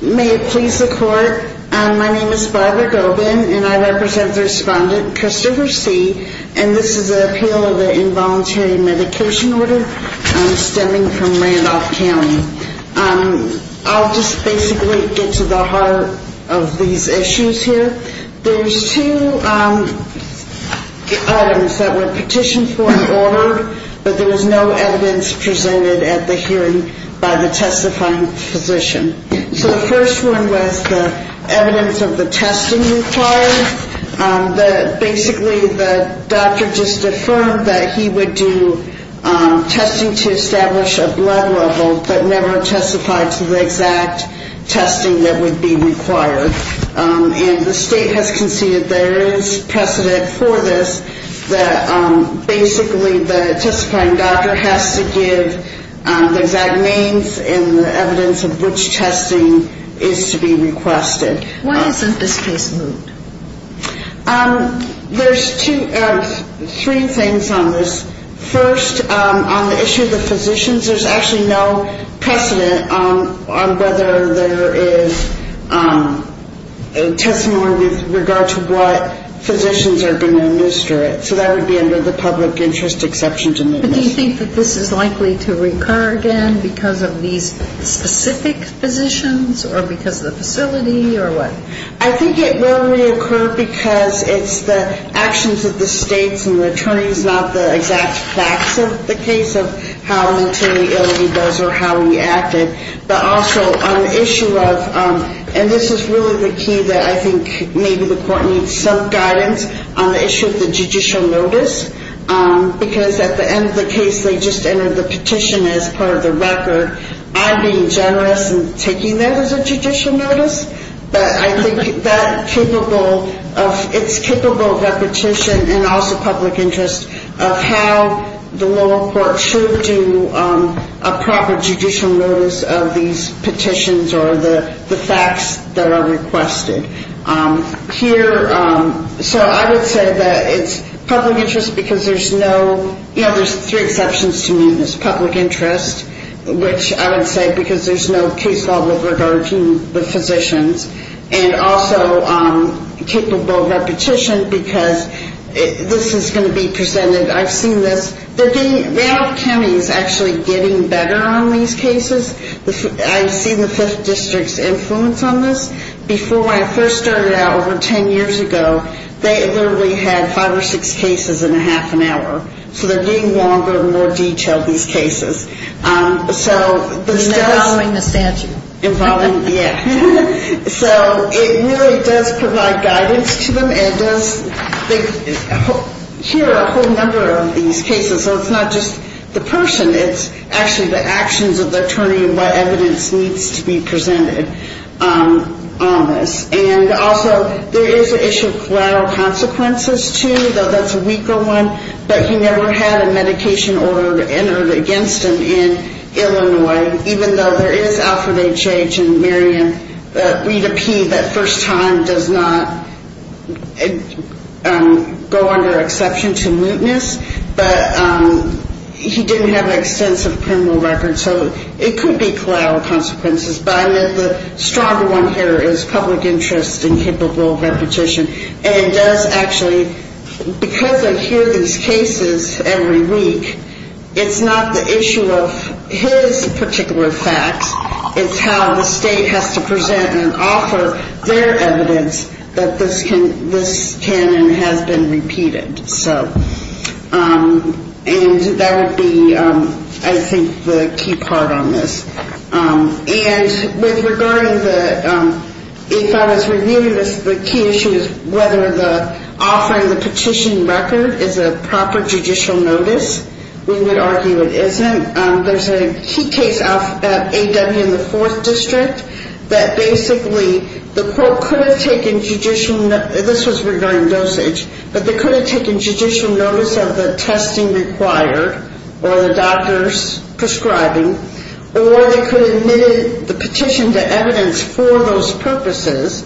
May it please the court. My name is Barbara Gobin and I represent the respondent Christopher C. And this is an appeal of an involuntary medication order stemming from Randolph County. I'll just basically get to the heart of the issue. There's two items that were petitioned for and ordered but there was no evidence presented at the hearing by the testifying physician. So the first one was the evidence of the testing required. Basically the doctor just affirmed that he would do testing to establish a blood level but never testified to the exact testing that would be required. And the state has conceded there is precedent for this that basically the testifying doctor has to give the exact names and the evidence of which testing is to be requested. Why isn't this case moved? There's two, three things on this. First, on the issue of the physicians, there's actually no precedent on whether there is a testimony with regard to what physicians are going to administer it. So that would be under the public interest exception to move this. But do you think that this is likely to recur again because of these specific physicians or because of the facility or what? I think it will reoccur because it's the actions of the states and the attorneys, not the exact facts of the case of how mentally ill he was or how he acted. But also on the issue of, and this is really the key that I think maybe the court needs some guidance on the issue of the judicial notice because at the end of the case they just entered the petition as part of the record. I'm being generous in taking that as a judicial notice, but I think it's capable of repetition and also public interest of how the lower court should do a proper judicial notice of these petitions or the facts that are requested. Here, so I would say that it's public interest because there's no, you know, there's three exceptions to move this, public interest, which I would say because there's no case law with regard to the physicians, and also capable of repetition because this is going to be presented. I've seen this, they're getting, Randolph County's actually getting better on these cases. I've seen the 5th District's influence on this. Before, when I first started out over 10 years ago, they literally had five or six cases in a half an hour. So they're getting longer and more detailed, these cases. So this does... Involving the statute. Involving, yeah. So it really does provide guidance to them. It does, here are a whole number of these cases. So it's not just the person, it's actually the actions of the attorney and what evidence needs to be presented on this. And also, there is an issue of collateral consequences, too, though that's a weaker one. But he never had a medication order entered against him in Illinois, even though there is Alfred H. H. and Miriam Rita P. That first time does not go under exception to mootness. But he didn't have an extensive criminal record, so it could be collateral consequences. But the stronger one here is public interest and capable repetition. And it does actually, because I hear these cases every week, it's not the issue of his particular facts. It's how the state has to present and offer their evidence that this can and has been repeated. And that would be, I think, the key part on this. And with regarding the, if I was reviewing this, the key issue is whether the offering the petition record is a proper judicial notice. We would argue it isn't. There's a key case at A.W. in the 4th District that basically the court could have taken judicial, this was regarding dosage, but they could have taken judicial notice of the testing required or the doctor's prescribing, or they could have admitted the petition to evidence for those purposes,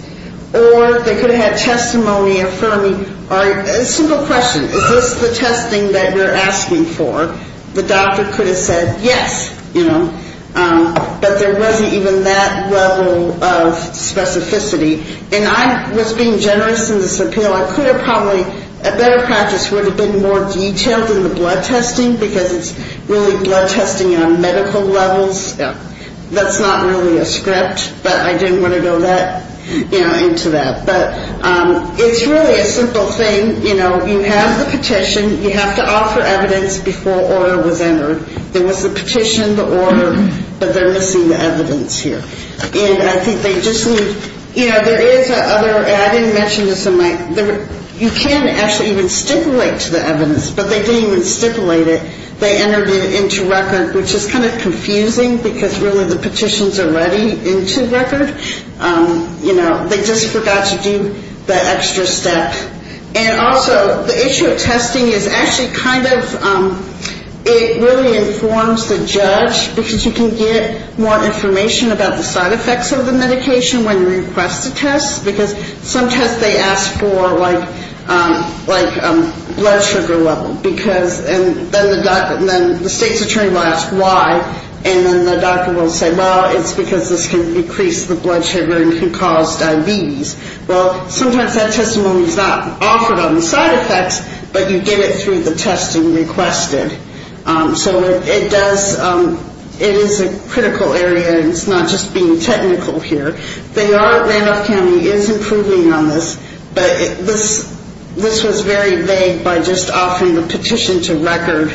or they could have had testimony affirming. A simple question, is this the testing that you're asking for? The doctor could have said yes, you know, but there wasn't even that level of specificity. And I was being generous in this appeal. I could have probably, a better practice would have been more detailed in the blood testing, because it's really blood testing on medical levels. That's not really a script, but I didn't want to go that, you know, into that. But it's really a simple thing. You know, you have the petition. You have to offer evidence before order was entered. There was the petition, the order, but they're missing the evidence here. And I think they just need, you know, there is other, I didn't mention this in my, you can actually even stipulate to the evidence, but they didn't even stipulate it. They entered it into record, which is kind of confusing, because really the petitions are ready into record. You know, they just forgot to do that extra step. And also, the issue of testing is actually kind of, it really informs the judge, because you can get more information about the side effects of the medication when you request a test, because sometimes they ask for, like, blood sugar level, because, and then the state's attorney will ask why, and then the doctor will say, well, it's because this can decrease the blood sugar and can cause diabetes. Well, sometimes that testimony is not offered on the side effects, but you get it through the testing requested. So it does, it is a critical area, and it's not just being technical here. They are, Randolph County is improving on this, but this was very vague by just offering the petition to record,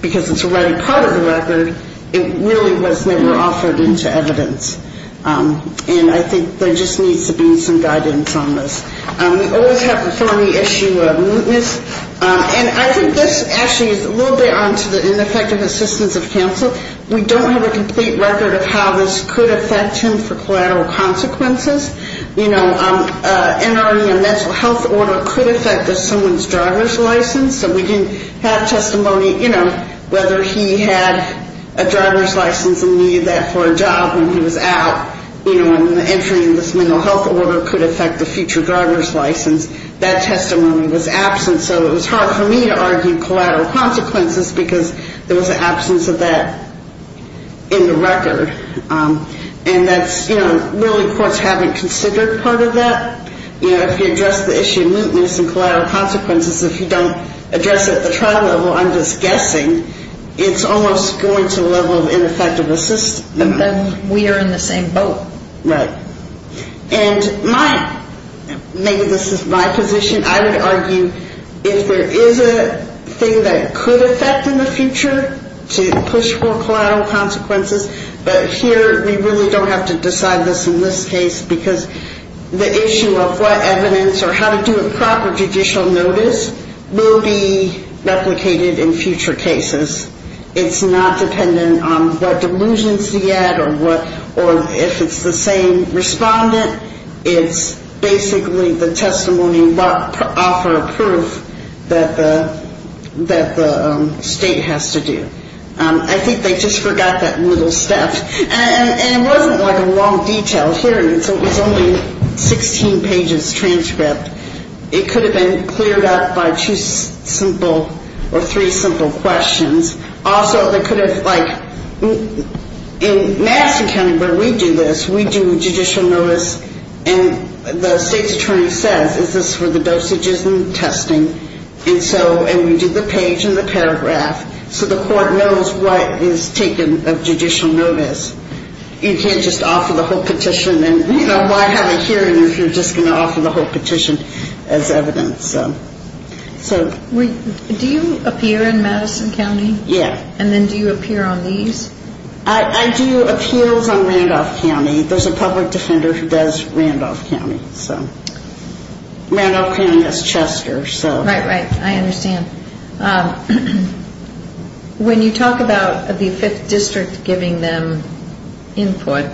because it's already part of the record. It really was never offered into evidence. And I think there just needs to be some guidance on this. We always have the thorny issue of mootness. And I think this actually is a little bit onto the ineffective assistance of counsel. We don't have a complete record of how this could affect him for collateral consequences. You know, entering a mental health order could affect someone's driver's license, so we didn't have testimony, you know, whether he had a driver's license and needed that for a job when he was out. You know, entering this mental health order could affect the future driver's license. That testimony was absent, so it was hard for me to argue collateral consequences, because there was an absence of that in the record. And that's, you know, really courts haven't considered part of that. You know, if you address the issue of mootness and collateral consequences, if you don't address it at the trial level, I'm just guessing, it's almost going to the level of ineffective assistance. But then we are in the same boat. Right. And my – maybe this is my position. I would argue if there is a thing that could affect in the future to push for collateral consequences, but here we really don't have to decide this in this case, because the issue of what evidence or how to do a proper judicial notice will be replicated in future cases. It's not dependent on what delusions he had or what – or if it's the same respondent. It's basically the testimony offer proof that the state has to do. I think they just forgot that little step. And it wasn't like a long detail hearing, so it was only 16 pages transcript. It could have been cleared up by two simple or three simple questions. Also, they could have, like, in Madison County where we do this, we do judicial notice, and the state's attorney says, is this for the dosages and testing? And so – and we do the page and the paragraph so the court knows what is taken of judicial notice. You can't just offer the whole petition and, you know, why have a hearing if you're just going to offer the whole petition as evidence? Do you appear in Madison County? Yeah. And then do you appear on these? I do appeals on Randolph County. There's a public defender who does Randolph County, so. Randolph County has Chester, so. Right, right. I understand. When you talk about the 5th District giving them input,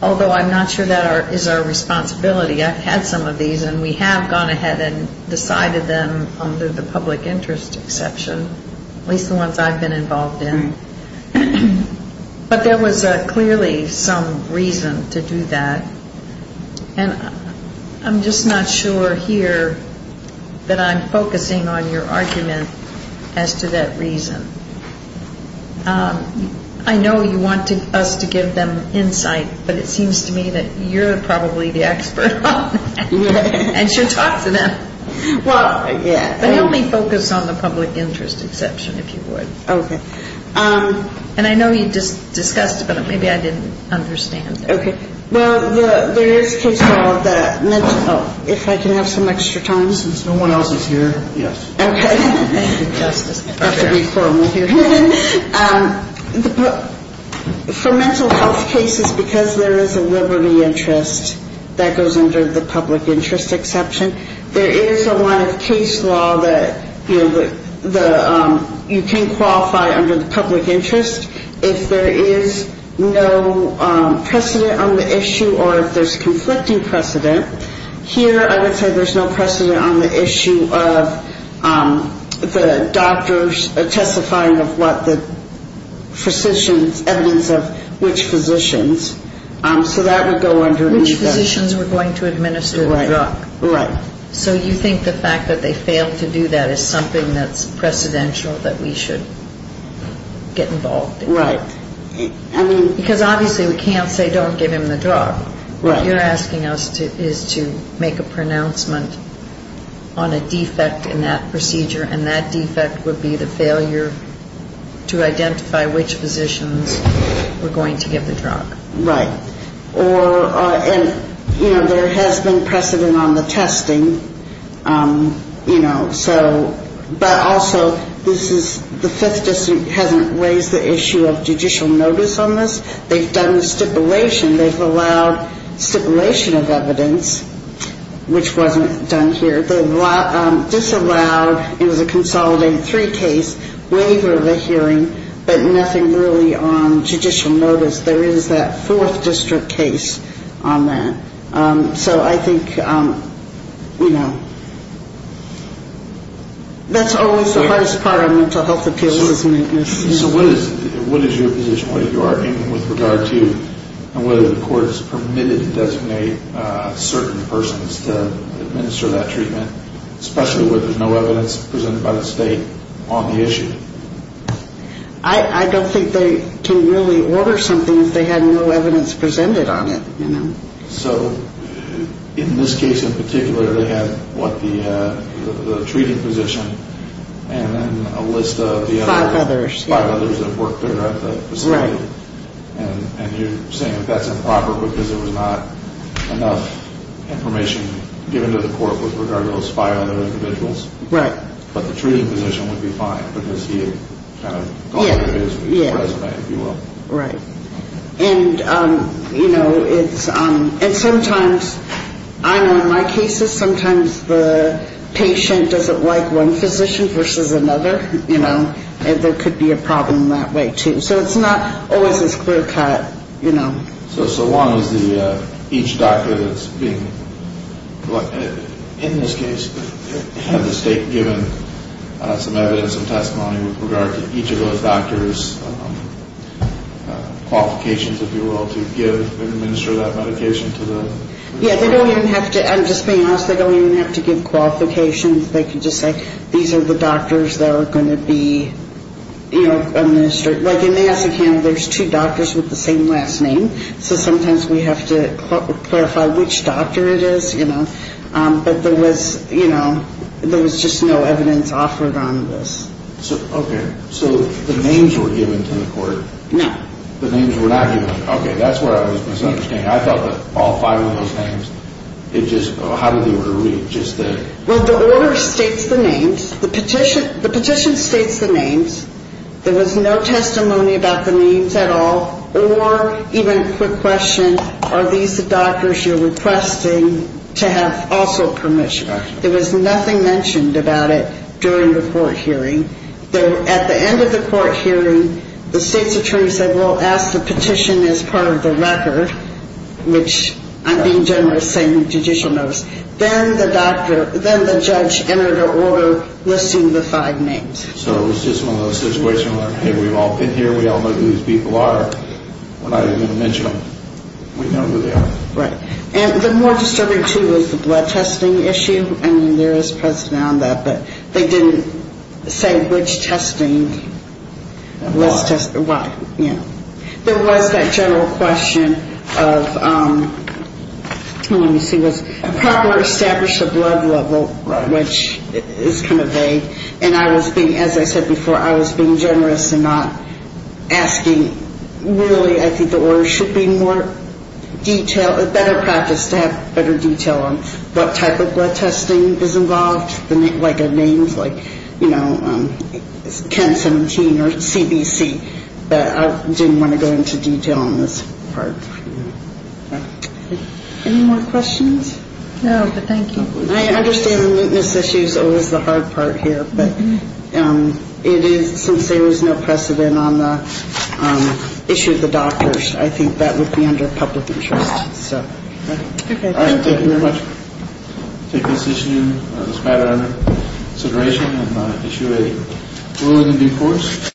although I'm not sure that is our responsibility. I've had some of these, and we have gone ahead and decided them under the public interest exception, at least the ones I've been involved in. But there was clearly some reason to do that. And I'm just not sure here that I'm focusing on your argument as to that reason. I know you wanted us to give them insight, but it seems to me that you're probably the expert on it and should talk to them. Well, yeah. But only focus on the public interest exception, if you would. Okay. And I know you discussed it, but maybe I didn't understand. Okay. Well, there is case law that, if I can have some extra time. Since no one else is here, yes. Okay. Thank you, Justice. I have to be formal here. For mental health cases, because there is a liberty interest, that goes under the public interest exception, there is a line of case law that you can qualify under the public interest. If there is no precedent on the issue or if there's conflicting precedent, here I would say there's no precedent on the issue of the doctors testifying of what the physicians, evidence of which physicians. So that would go underneath that. Which physicians were going to administer the drug. Right. So you think the fact that they failed to do that is something that's precedential that we should get involved in? Right. Because obviously we can't say don't give him the drug. What you're asking us is to make a pronouncement on a defect in that procedure, and that defect would be the failure to identify which physicians were going to give the drug. Right. And, you know, there has been precedent on the testing, you know, so. But also this is the Fifth District hasn't raised the issue of judicial notice on this. They've done the stipulation. They've allowed stipulation of evidence, which wasn't done here. They've disallowed, it was a consolidated three case, waiver of the hearing, but nothing really on judicial notice. There is that Fourth District case on that. So I think, you know, that's always the hardest part of mental health appeals. So what is your position, what you are aiming with regard to, and whether the court is permitted to designate certain persons to administer that treatment, especially where there's no evidence presented by the state on the issue? I don't think they can really order something if they had no evidence presented on it, you know. So in this case in particular, they had what the treating physician and then a list of the other. Five others. Five others that worked there at the facility. Right. And you're saying that's improper because there was not enough information given to the court with regard to those five other individuals. Right. But the treating physician would be fine because he had kind of gone through his resume, if you will. Right. And, you know, it's, and sometimes, I know in my cases, sometimes the patient doesn't like one physician versus another, you know, and there could be a problem that way too. So it's not always as clear cut, you know. So one is the, each doctor that's being, in this case, has the state given some evidence and testimony with regard to each of those doctors' qualifications, if you will, to give and administer that medication to the. Yeah, they don't even have to, I'm just being honest, they don't even have to give qualifications. They can just say these are the doctors that are going to be, you know, administer. Like in the SEC, there's two doctors with the same last name. So sometimes we have to clarify which doctor it is, you know. But there was, you know, there was just no evidence offered on this. Okay. So the names were given to the court. No. The names were not given. Okay. That's where I was misunderstanding. I thought that all five of those names, it just, how did the order read? Just the. Well, the order states the names. The petition states the names. There was no testimony about the names at all, or even a quick question, are these the doctors you're requesting to have also permission? There was nothing mentioned about it during the court hearing. At the end of the court hearing, the state's attorney said, well, ask the petition as part of the record, which I'm being generous, saying judicial notice. Then the doctor, then the judge entered an order listing the five names. So it was just one of those situations where, hey, we've all been here. We all know who these people are. We're not even going to mention them. We know who they are. Right. And the more disturbing, too, was the blood testing issue. I mean, there is precedent on that, but they didn't say which testing. Why? Yeah. There was that general question of, let me see, was a proper established blood level, which is kind of vague. And I was being, as I said before, I was being generous and not asking. Really, I think the order should be more detailed, a better practice to have better detail on what type of blood testing is involved, like the names, like, you know, 1017 or CBC. But I didn't want to go into detail on this part. Any more questions? No, but thank you. I understand the mootness issue is always the hard part here. But it is, since there is no precedent on the issue of the doctors, I think that would be under public interest. Okay. Thank you very much. Take this issue, this matter under consideration and issue a ruling in due course.